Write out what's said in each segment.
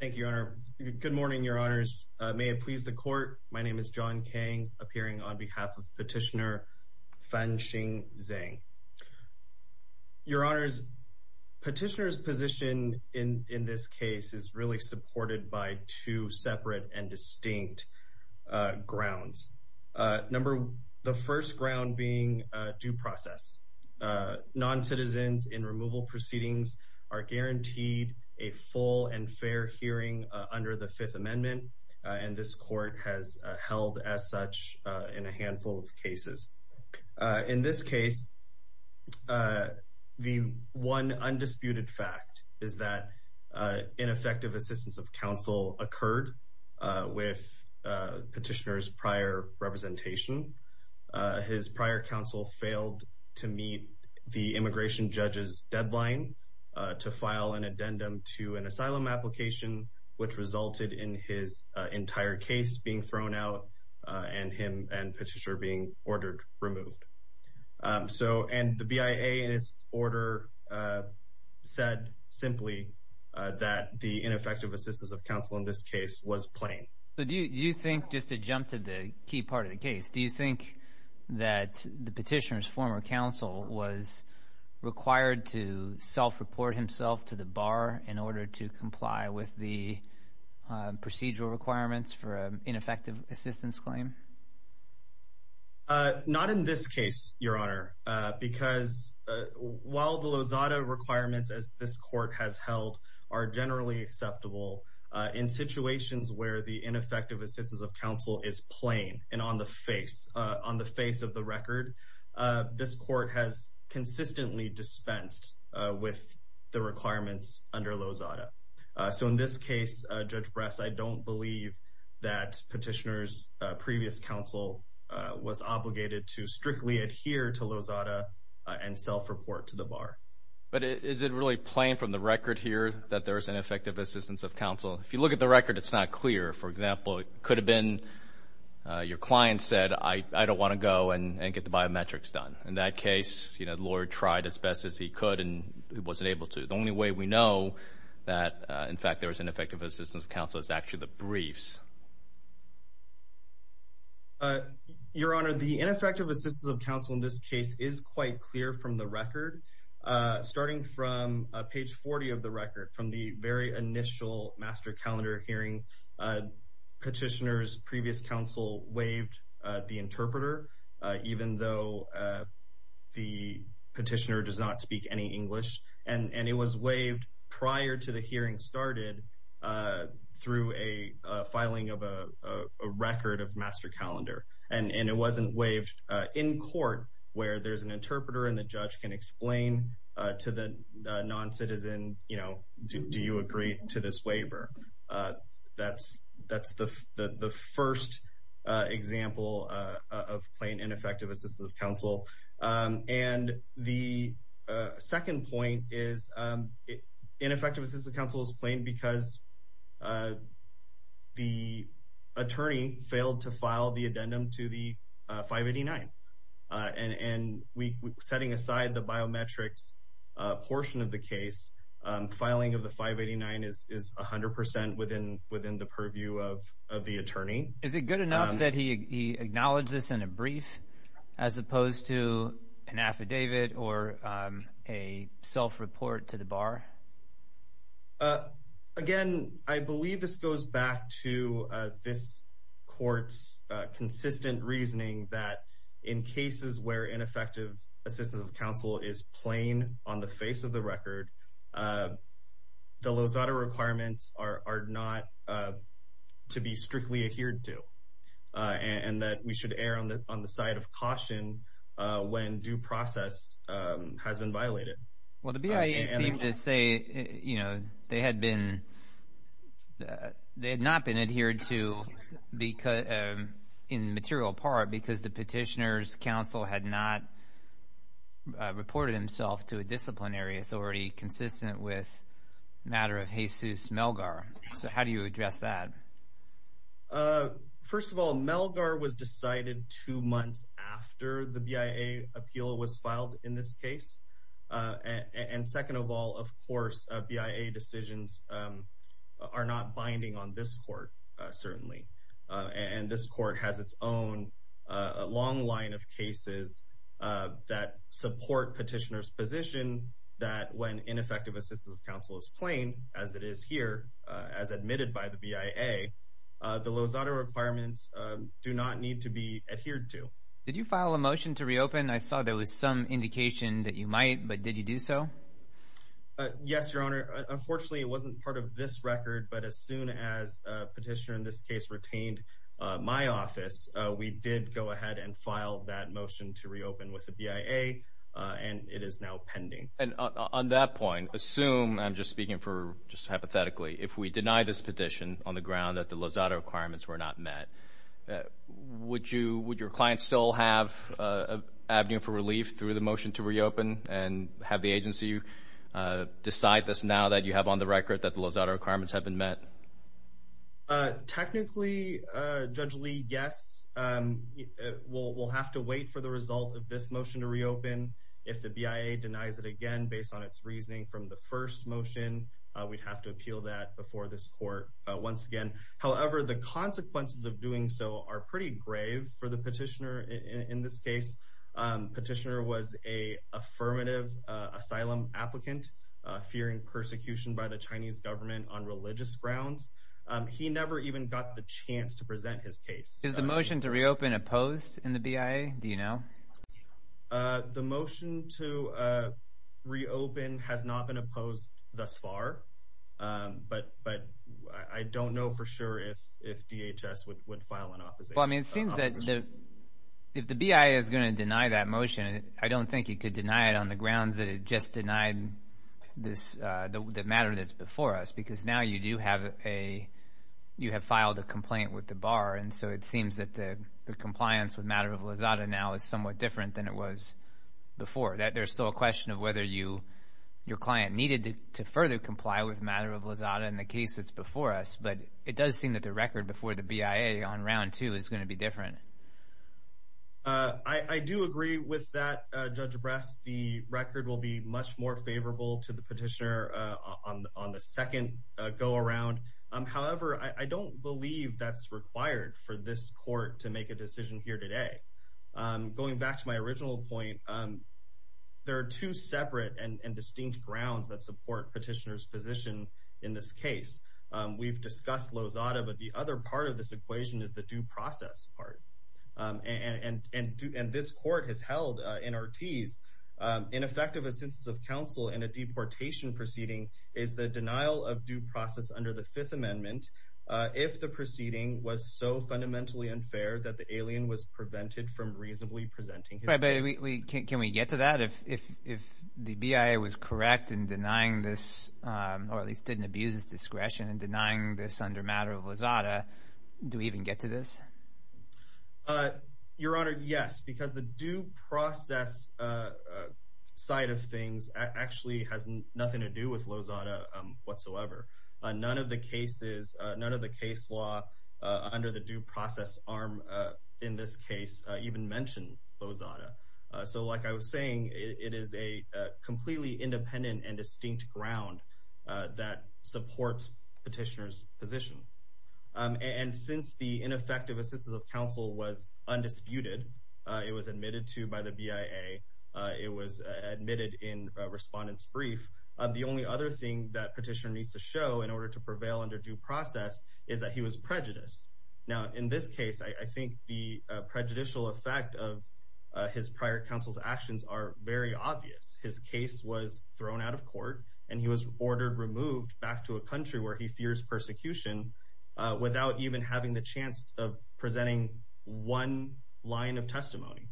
Thank you, Your Honor. Good morning, Your Honors. May it please the Court, my name is John Kang, appearing on behalf of Petitioner Fanxing Zeng. Your Honors, Petitioner's position in this case is really supported by two separate and distinct grounds. The first ground being due process. Non-citizens in removal proceedings are guaranteed a full and fair hearing under the Fifth Amendment, and this Court has held as such in a handful of cases. In this case, the one undisputed fact is that ineffective assistance of counsel occurred with Petitioner's prior representation. His prior counsel failed to meet the immigration judge's deadline to file an addendum to an asylum application, which resulted in his entire case being thrown out and him and Petitioner being ordered removed. So, and the BIA, in its order, said simply that the ineffective assistance of counsel in this case was plain. So, do you think, just to jump to the key part of the case, do you think that the Petitioner's former counsel was required to self-report himself to the bar in order to comply with the procedural requirements for an ineffective assistance claim? Not in this case, Your Honor, because while the Lozada requirements as this Court has ineffective assistance of counsel is plain and on the face, on the face of the record, this Court has consistently dispensed with the requirements under Lozada. So, in this case, Judge Bress, I don't believe that Petitioner's previous counsel was obligated to strictly adhere to Lozada and self-report to the bar. But is it really plain from the record here that there is ineffective assistance of counsel? If you look at the record, it's not clear. For example, it could have been your client said I don't want to go and get the biometrics done. In that case, you know, the lawyer tried as best as he could and wasn't able to. The only way we know that, in fact, there was ineffective assistance of counsel is actually the briefs. Your Honor, the ineffective assistance of counsel in this case is quite clear from the Master Calendar hearing. Petitioner's previous counsel waived the interpreter even though the petitioner does not speak any English. And it was waived prior to the hearing started through a filing of a record of Master Calendar. And it wasn't waived in court where there's an interpreter and the judge can explain to the non-citizen, you know, do you agree to this waiver? That's the first example of plain ineffective assistance of counsel. And the second point is ineffective assistance of counsel is plain because the attorney failed to file the addendum to the 589. And setting aside the biometrics portion of the case, filing of the 589 is 100 percent within the purview of the attorney. Is it good enough that he acknowledged this in a brief as opposed to an affidavit or a self-report to the bar? Again, I believe this goes back to this court's consistent reasoning that in cases where ineffective assistance of counsel is plain on the face of the record, the Lozada requirements are not to be strictly adhered to and that we should err on the side of caution when due process has been violated. Well, the BIA seemed to say, you know, they had not been adhered to in material part because the petitioner's counsel had not reported himself to a disciplinary authority consistent with matter of Jesus Melgar. So how do you address that? First of all, Melgar was decided two months after the BIA appeal was filed in this case. And second of all, of course, BIA decisions are not binding on this court, certainly. And this court has its own long line of cases that support petitioner's position that when ineffective assistance of counsel is plain, as it is here, as admitted by the BIA, the Lozada requirements do not need to be adhered to. Did you file a motion to reopen? I saw there was some indication that you might, but did you do so? Yes, Your Honor. Unfortunately, it wasn't part of this record. But as soon as petitioner in this case retained my office, we did go ahead and file that motion to reopen with the BIA. And it is now pending. And on that point, assume I'm just speaking for just hypothetically, if we deny this petition on the ground that the Lozada requirements were not met, would you would your clients still have avenue for relief through the motion to reopen and have the agency decide this now that you have on the record that the Lozada requirements have been met? Technically, Judge Lee, yes, we'll have to wait for the result of this motion to reopen. If the BIA denies it again, based on its reasoning from the first motion, we'd have to appeal that before this court once again. However, the consequences of doing so are pretty grave for the petitioner. In this case, petitioner was a affirmative asylum applicant fearing persecution by the Chinese government on religious grounds. He never even got the chance to present his case. Is the motion to reopen opposed in the BIA? Do you know the motion to reopen has not been opposed thus far? But I don't know for sure if DHS would file an opposition. Well, I mean, it seems that if the BIA is going to deny that motion, I don't think you could deny it on the grounds that it just denied the matter that's before us, because now you do have a you have filed a complaint with the bar. And so it seems that the compliance with matter of Lozada now is somewhat different than it was before. That there's still a question of whether you your client needed to further comply with matter of Lozada in the case that's before us. But it does seem that the record before the BIA on round two is going to be different. I do agree with that, Judge Bress, the record will be much more favorable to the petitioner on the second go around. However, I don't believe that's required for this court to make a decision here today. Going back to my original point, there are two separate and distinct grounds that support petitioner's position in this case. We've discussed Lozada, but the other part of this equation is the due process part. And this court has held in Ortiz, in effect of a census of counsel and a deportation proceeding is the denial of due process under the Fifth Amendment. If the proceeding was so fundamentally unfair that the alien was prevented from reasonably presenting. But can we get to that if if the BIA was correct in denying this or at least didn't abuse his discretion and denying this under matter of Lozada, do we even get to this? Your Honor, yes, because the due process side of things actually has nothing to do with Lozada whatsoever. None of the cases, none of the case law under the due process arm in this case even mentioned Lozada. So like I was saying, it is a completely independent and distinct ground that supports petitioner's position. And since the ineffective assistance of counsel was undisputed, it was admitted to by the BIA, it was admitted in respondent's brief. The only other thing that petitioner needs to show in order to prevail under due process is that he was prejudiced. Now, in this case, I think the prejudicial effect of his prior counsel's actions are very obvious. His case was thrown out of court and he was ordered removed back to a country where he fears persecution without even having the chance of presenting one line of testimony.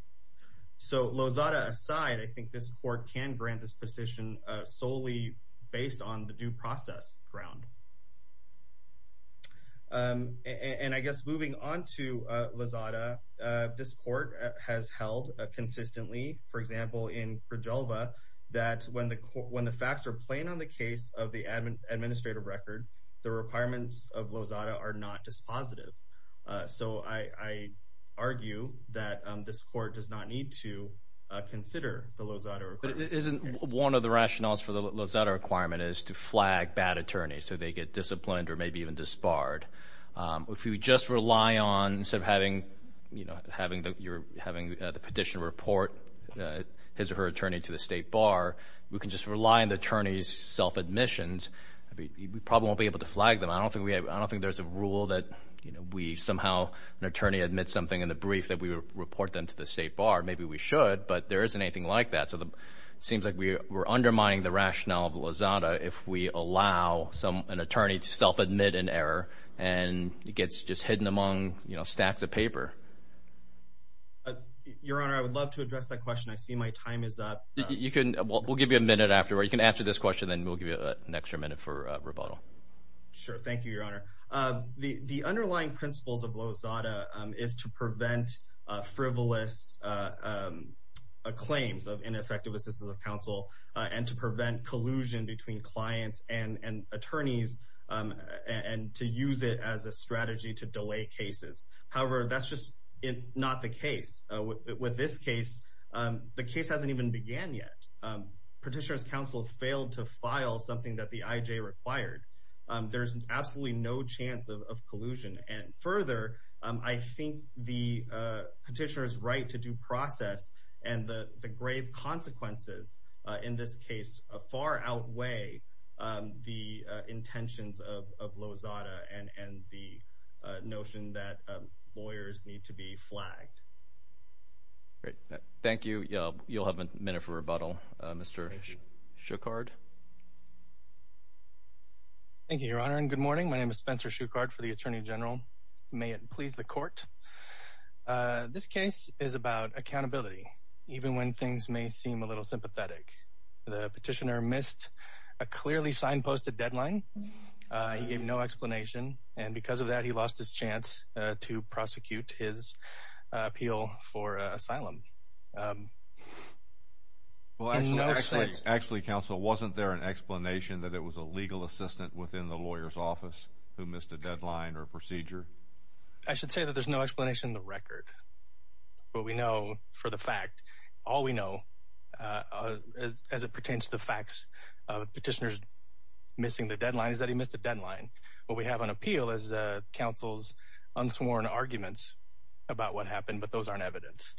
So Lozada aside, I think this court can grant this position solely based on the due process ground. And I guess moving on to Lozada, this court has held consistently, for example, in Krijalva that when the facts are plain on the case of the administrative record, the requirements of Lozada are not dispositive. So I argue that this court does not need to consider the Lozada requirement. But isn't one of the rationales for the Lozada requirement is to flag bad attorneys so they get disciplined or maybe even disbarred. If you just rely on sort of having, you know, having the petitioner report his or her attorney to the state bar, we can just rely on the attorney's self-admissions. We probably won't be able to flag them. I don't think there's a rule that, you know, we somehow, an attorney admits something in the brief that we report them to the state bar. Maybe we should, but there isn't anything like that. So it seems like we're undermining the rationale of Lozada if we allow an attorney to self-admit an error and it gets just hidden among, you know, stacks of paper. Your Honor, I would love to address that question. I see my time is up. You can, we'll give you a minute after. You can answer this question and then we'll give you an extra minute for rebuttal. Sure. Thank you, Your Honor. The underlying principles of Lozada is to prevent frivolous claims of ineffective assistance of counsel and to prevent collusion between clients and attorneys and to use it as a strategy to delay cases. However, that's just not the case. With this case, the case hasn't even began yet. Petitioner's counsel failed to file something that the IJ required. There's absolutely no chance of collusion. And further, I think the petitioner's right to due process and the grave consequences in this case far outweigh the intentions of Lozada and the notion that lawyers need to be flagged. Thank you. You'll have a minute for rebuttal. Mr. Schuchard. Thank you, Your Honor. And good morning. My name is Spencer Schuchard for the Attorney General. May it please the court. This case is about accountability, even when things may seem a little sympathetic. The petitioner missed a clearly signposted deadline. He gave no explanation. And because of that, he lost his chance to prosecute his appeal for asylum. Well, actually, actually, actually, counsel, wasn't that the case. Wasn't there an explanation that it was a legal assistant within the lawyer's office who missed a deadline or procedure? I should say that there's no explanation in the record, but we know for the fact, all we know as it pertains to the facts of petitioners missing the deadline is that he missed a deadline. What we have on appeal is counsel's unsworn arguments about what happened, but those aren't evidence.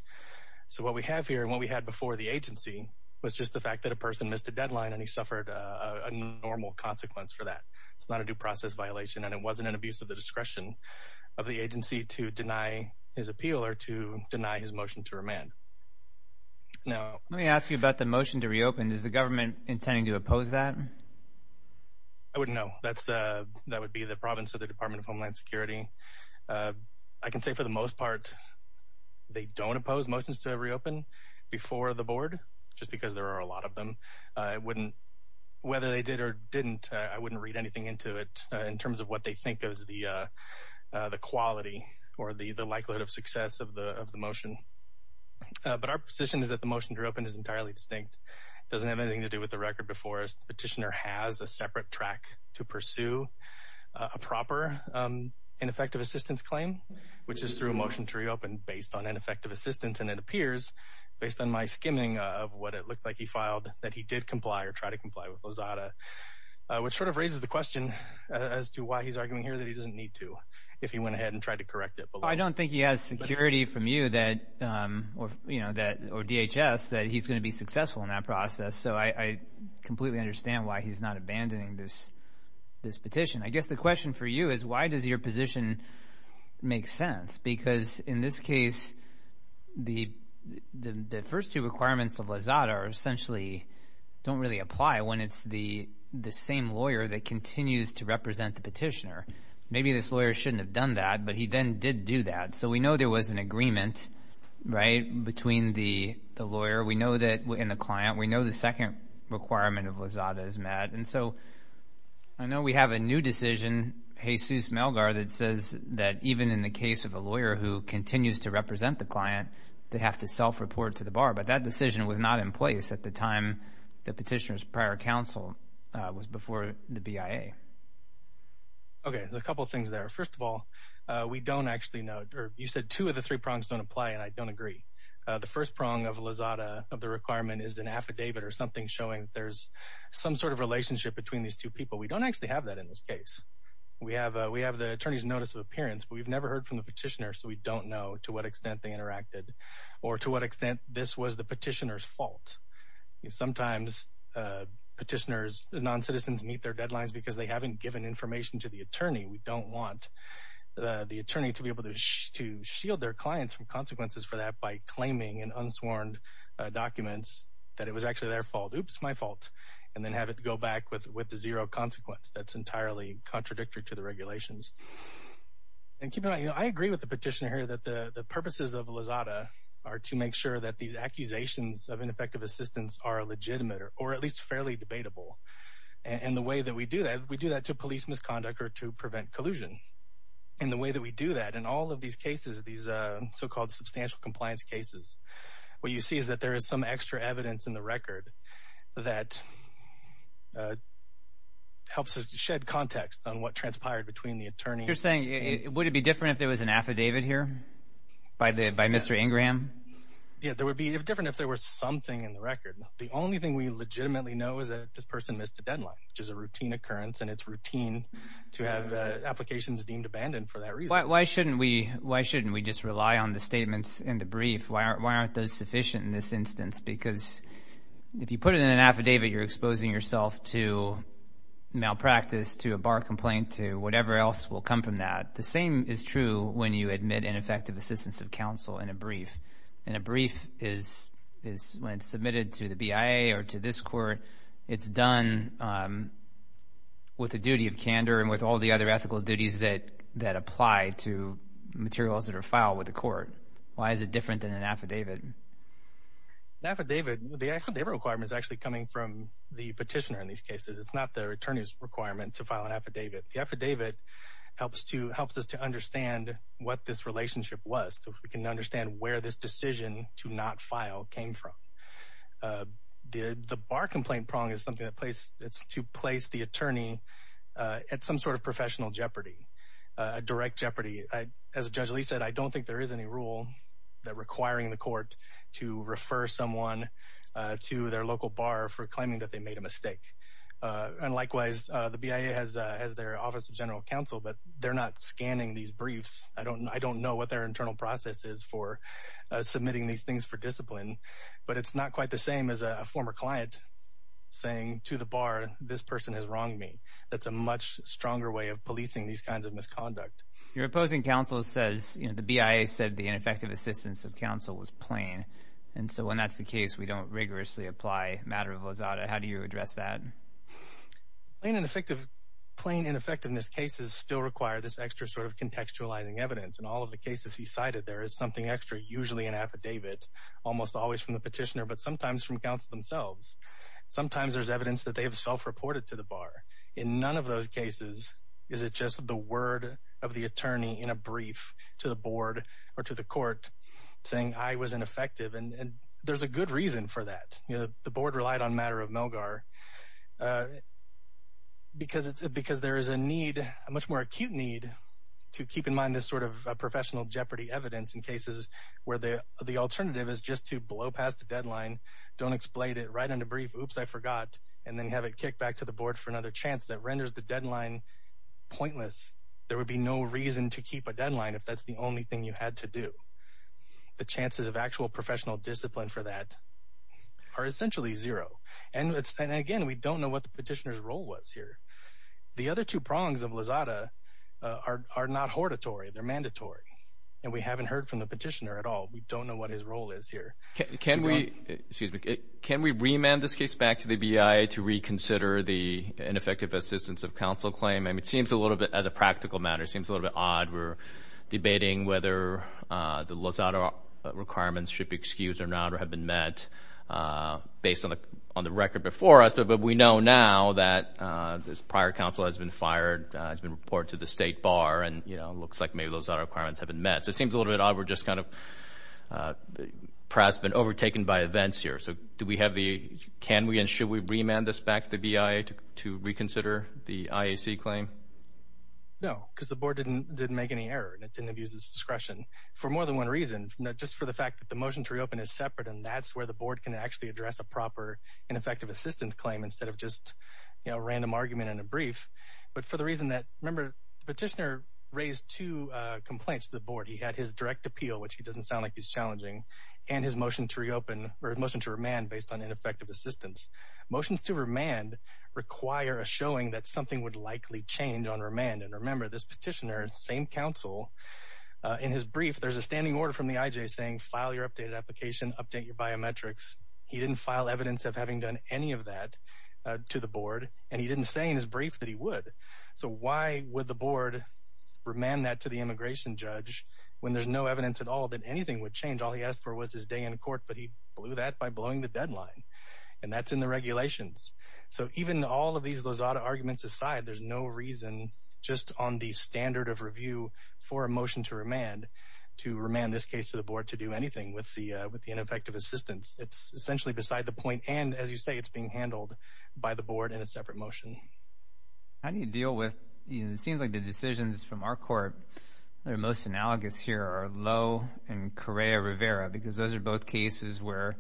So what we have here and what we had before the agency was just the fact that a person missed a deadline and he suffered a normal consequence for that. It's not a due process violation and it wasn't an abuse of the discretion of the agency to deny his appeal or to deny his motion to remand. Now, let me ask you about the motion to reopen, is the government intending to oppose that? I wouldn't know. That's that would be the province of the Department of Homeland Security. I can say for the most part, they don't oppose motions to reopen before the board just because there are a lot of them wouldn't, whether they did or didn't, I wouldn't read anything into it in terms of what they think is the quality or the likelihood of success of the of the motion. But our position is that the motion to reopen is entirely distinct. It doesn't have anything to do with the record before a petitioner has a separate track to pursue a proper ineffective assistance claim, which is through a motion to reopen based on ineffective assistance. And it appears based on my skimming of what it looked like he filed that he did comply or try to comply with Lozada, which sort of raises the question as to why he's arguing here that he doesn't need to if he went ahead and tried to correct it. I don't think he has security from you that or, you know, that or DHS, that he's going to be successful in that process. So I completely understand why he's not abandoning this this petition. I guess the question for you is, why does your position make sense? Because in this case, the the first two requirements of Lozada are essentially don't really apply when it's the the same lawyer that continues to represent the petitioner. Maybe this lawyer shouldn't have done that, but he then did do that. So we know there was an agreement right between the the lawyer. We know that in the client, we know the second requirement of Lozada is met. And so I know we have a new decision, Jesus Melgar, that says that even in the case of a lawyer who continues to represent the client, they have to self-report to the bar. But that decision was not in place at the time the petitioner's prior counsel was before the BIA. OK, there's a couple of things there. First of all, we don't actually know or you said two of the three prongs don't apply. And I don't agree. The first prong of Lozada of the requirement is an affidavit or something showing that there's some sort of relationship between these two people. We don't actually have that in this case. We have we have the attorney's notice of appearance, but we've never heard from the petitioner. So we don't know to what extent they interacted or to what extent this was the petitioner's fault. Sometimes petitioners, non-citizens meet their deadlines because they haven't given information to the attorney. We don't want the attorney to be able to to shield their clients from consequences for that by claiming in unsworn documents that it was actually their fault. Oops, my fault. And then have it go back with with zero consequence. That's entirely contradictory to the regulations. And I agree with the petitioner here that the purposes of Lozada are to make sure that these accusations of ineffective assistance are legitimate or at least fairly debatable. And the way that we do that, we do that to police misconduct or to prevent collusion. And the way that we do that in all of these cases, these so-called substantial compliance cases, what you see is that there is some extra evidence in the record that helps us to shed context on what transpired between the attorney. You're saying would it be different if there was an affidavit here by the by Mr. Ingram? Yeah, there would be different if there were something in the record. The only thing we legitimately know is that this person missed a deadline, which is a routine occurrence. And it's routine to have applications deemed abandoned for that reason. Why shouldn't we why shouldn't we just rely on the statements in the brief? Why aren't those sufficient in this instance? Because if you put it in an affidavit, you're exposing yourself to malpractice, to a bar complaint, to whatever else will come from that. The same is true when you admit ineffective assistance of counsel in a brief. And a brief is when it's submitted to the BIA or to this court. It's done with the duty of candor and with all the other ethical duties that that apply to materials that are filed with the court. Why is it different than an affidavit? An affidavit, the affidavit requirement is actually coming from the petitioner in these cases. It's not the attorney's requirement to file an affidavit. The affidavit helps to helps us to understand what this relationship was so we can understand where this decision to not file came from. The bar complaint prong is something that place it's to place the attorney at some sort of professional jeopardy, direct jeopardy. As Judge Lee said, I don't think there is any rule that requiring the court to refer someone to their local bar for claiming that they made a mistake. And likewise, the BIA has their Office of General Counsel, but they're not scanning these briefs. I don't know what their internal process is for submitting these things for discipline. But it's not quite the same as a former client saying to the bar, this person has wronged me. That's a much stronger way of policing these kinds of misconduct. Your opposing counsel says, you know, the BIA said the ineffective assistance of counsel was plain. And so when that's the case, we don't rigorously apply matter of lazada. How do you address that? In an effective, plain ineffectiveness cases still require this extra sort of contextualizing evidence. And all of the cases he cited, there is something extra, usually an affidavit, almost always from the petitioner, but sometimes from counsel themselves. Sometimes there's evidence that they have self-reported to the bar. In none of those cases, is it just the word of the attorney in a brief to the board or to the court saying I was ineffective? And there's a good reason for that. You know, the board relied on matter of Melgar because there is a need, a much more acute need, to keep in mind this sort of professional jeopardy evidence in cases where the alternative is just to blow past the deadline, don't explain it right in a brief, oops, I forgot, and then have it kicked back to the board for another chance that renders the deadline pointless. There would be no reason to keep a deadline if that's the only thing you had to do. The chances of actual professional discipline for that are essentially zero. And again, we don't know what the petitioner's role was here. The other two prongs of lazada are not hortatory. They're mandatory. And we haven't heard from the petitioner at all. We don't know what his role is here. Can we, excuse me, can we remand this case back to the BIA to reconsider the ineffective assistance of counsel claim? I mean, it seems a little bit, as a practical matter, it seems a little bit odd. We're debating whether the lazada requirements should be excused or not or have been met based on the record before us. But we know now that this prior counsel has been fired, has been reported to the state bar, and, you know, it looks like maybe lazada requirements have been met. So it seems a little bit odd. We're just kind of perhaps been overtaken by events here. So do we have the, can we and should we remand this back to the BIA to reconsider the IAC claim? No, because the board didn't make any error and it didn't abuse its discretion for more than one reason, just for the fact that the motion to reopen is separate. And that's where the board can actually address a proper ineffective assistance claim instead of just, you know, random argument in a brief. But for the reason that, remember, the petitioner raised two complaints to the board. He had his direct appeal, which he doesn't sound like he's challenging, and his motion to reopen or motion to remand based on ineffective assistance. Motions to remand require a showing that something would likely change on remand. And remember, this petitioner, same counsel, in his brief, there's a standing order from the IJ saying file your updated application, update your biometrics. He didn't file evidence of having done any of that to the board. And he didn't say in his brief that he would. So why would the board remand that to the immigration judge when there's no evidence at all that anything would change? All he asked for was his day in court, but he blew that by blowing the deadline. And that's in the regulations. So even all of these Lozada arguments aside, there's no reason just on the standard of review for a motion to remand, to remand this case to the board to do anything with the ineffective assistance. It's essentially beside the point. And as you say, it's being handled by the board in a separate motion. How do you deal with, it seems like the decisions from our court that are most analogous here are Lowe and Correa Rivera, because those are both cases where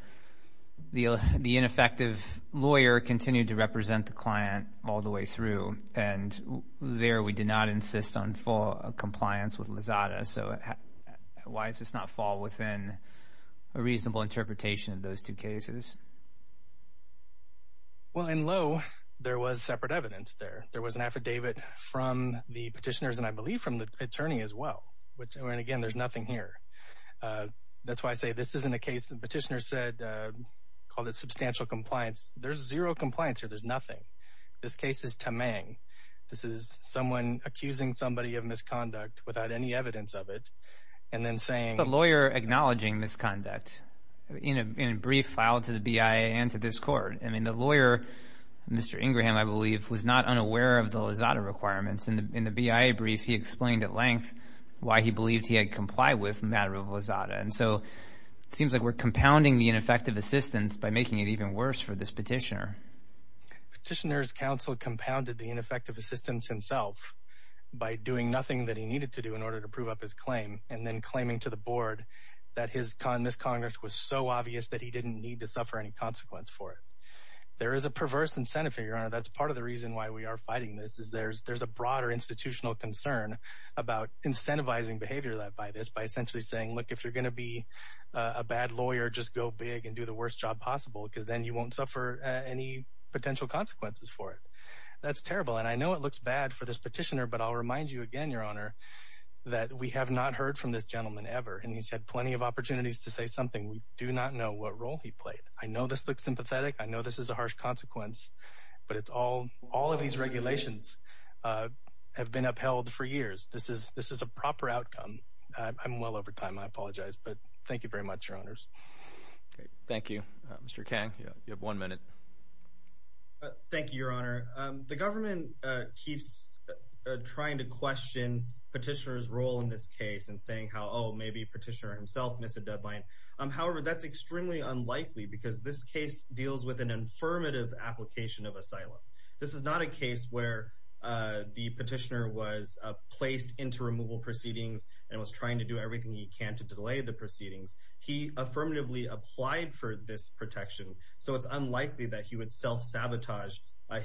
the ineffective lawyer continued to represent the client all the way through. And there we did not insist on full compliance with Lozada. So why does this not fall within a reasonable interpretation of those two cases? Well, in Lowe, there was separate evidence there. There was an affidavit from the petitioners and I believe from the attorney as well. Which, and again, there's nothing here. That's why I say this isn't a case the petitioner said, called it substantial compliance. There's zero compliance here. There's nothing. This case is tamang. This is someone accusing somebody of misconduct without any evidence of it. And then saying- The lawyer acknowledging misconduct in a brief filed to the BIA and to this court. I mean, the lawyer, Mr. Ingram, I believe, was not unaware of the Lozada requirements. In the BIA brief, he explained at length why he believed he had complied with a matter of Lozada. And so, it seems like we're compounding the ineffective assistance by making it even worse for this petitioner. Petitioner's counsel compounded the ineffective assistance himself by doing nothing that he needed to do in order to prove up his claim. And then claiming to the board that his misconduct was so obvious that he didn't need to suffer any consequence for it. There is a perverse incentive here, Your Honor. That's part of the reason why we are fighting this. Is there's a broader institutional concern about incentivizing behavior by this. By essentially saying, look, if you're gonna be a bad lawyer, just go big and do the worst job possible, because then you won't suffer any potential consequences for it. That's terrible. And I know it looks bad for this petitioner, but I'll remind you again, Your Honor, that we have not heard from this gentleman ever. And he's had plenty of opportunities to say something. We do not know what role he played. I know this looks sympathetic. I know this is a harsh consequence. But it's all, all of these regulations have been upheld for years. This is a proper outcome. I'm well over time, I apologize. But thank you very much, Your Honors. Great, thank you. Mr. Kang, you have one minute. Thank you, Your Honor. The government keeps trying to question petitioner's role in this case and saying how, oh, maybe petitioner himself missed a deadline. However, that's extremely unlikely because this case deals with an affirmative application of asylum. This is not a case where the petitioner was placed into removal proceedings and was trying to do everything he can to delay the proceedings. He affirmatively applied for this protection, so it's unlikely that he would self-sabotage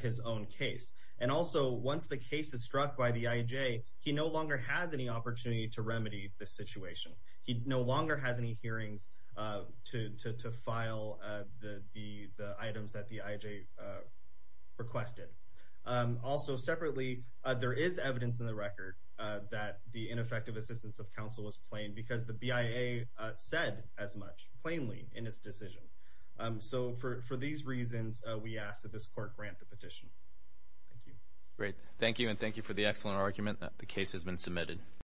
his own case. And also, once the case is struck by the IJ, he no longer has any opportunity to remedy this situation. He no longer has any hearings to file the items that the IJ requested. Also, separately, there is evidence in the record that the ineffective assistance of counsel was plain because the BIA said as much, plainly, in its decision. So for these reasons, we ask that this court grant the petition. Great, thank you and thank you for the excellent argument. The case has been submitted.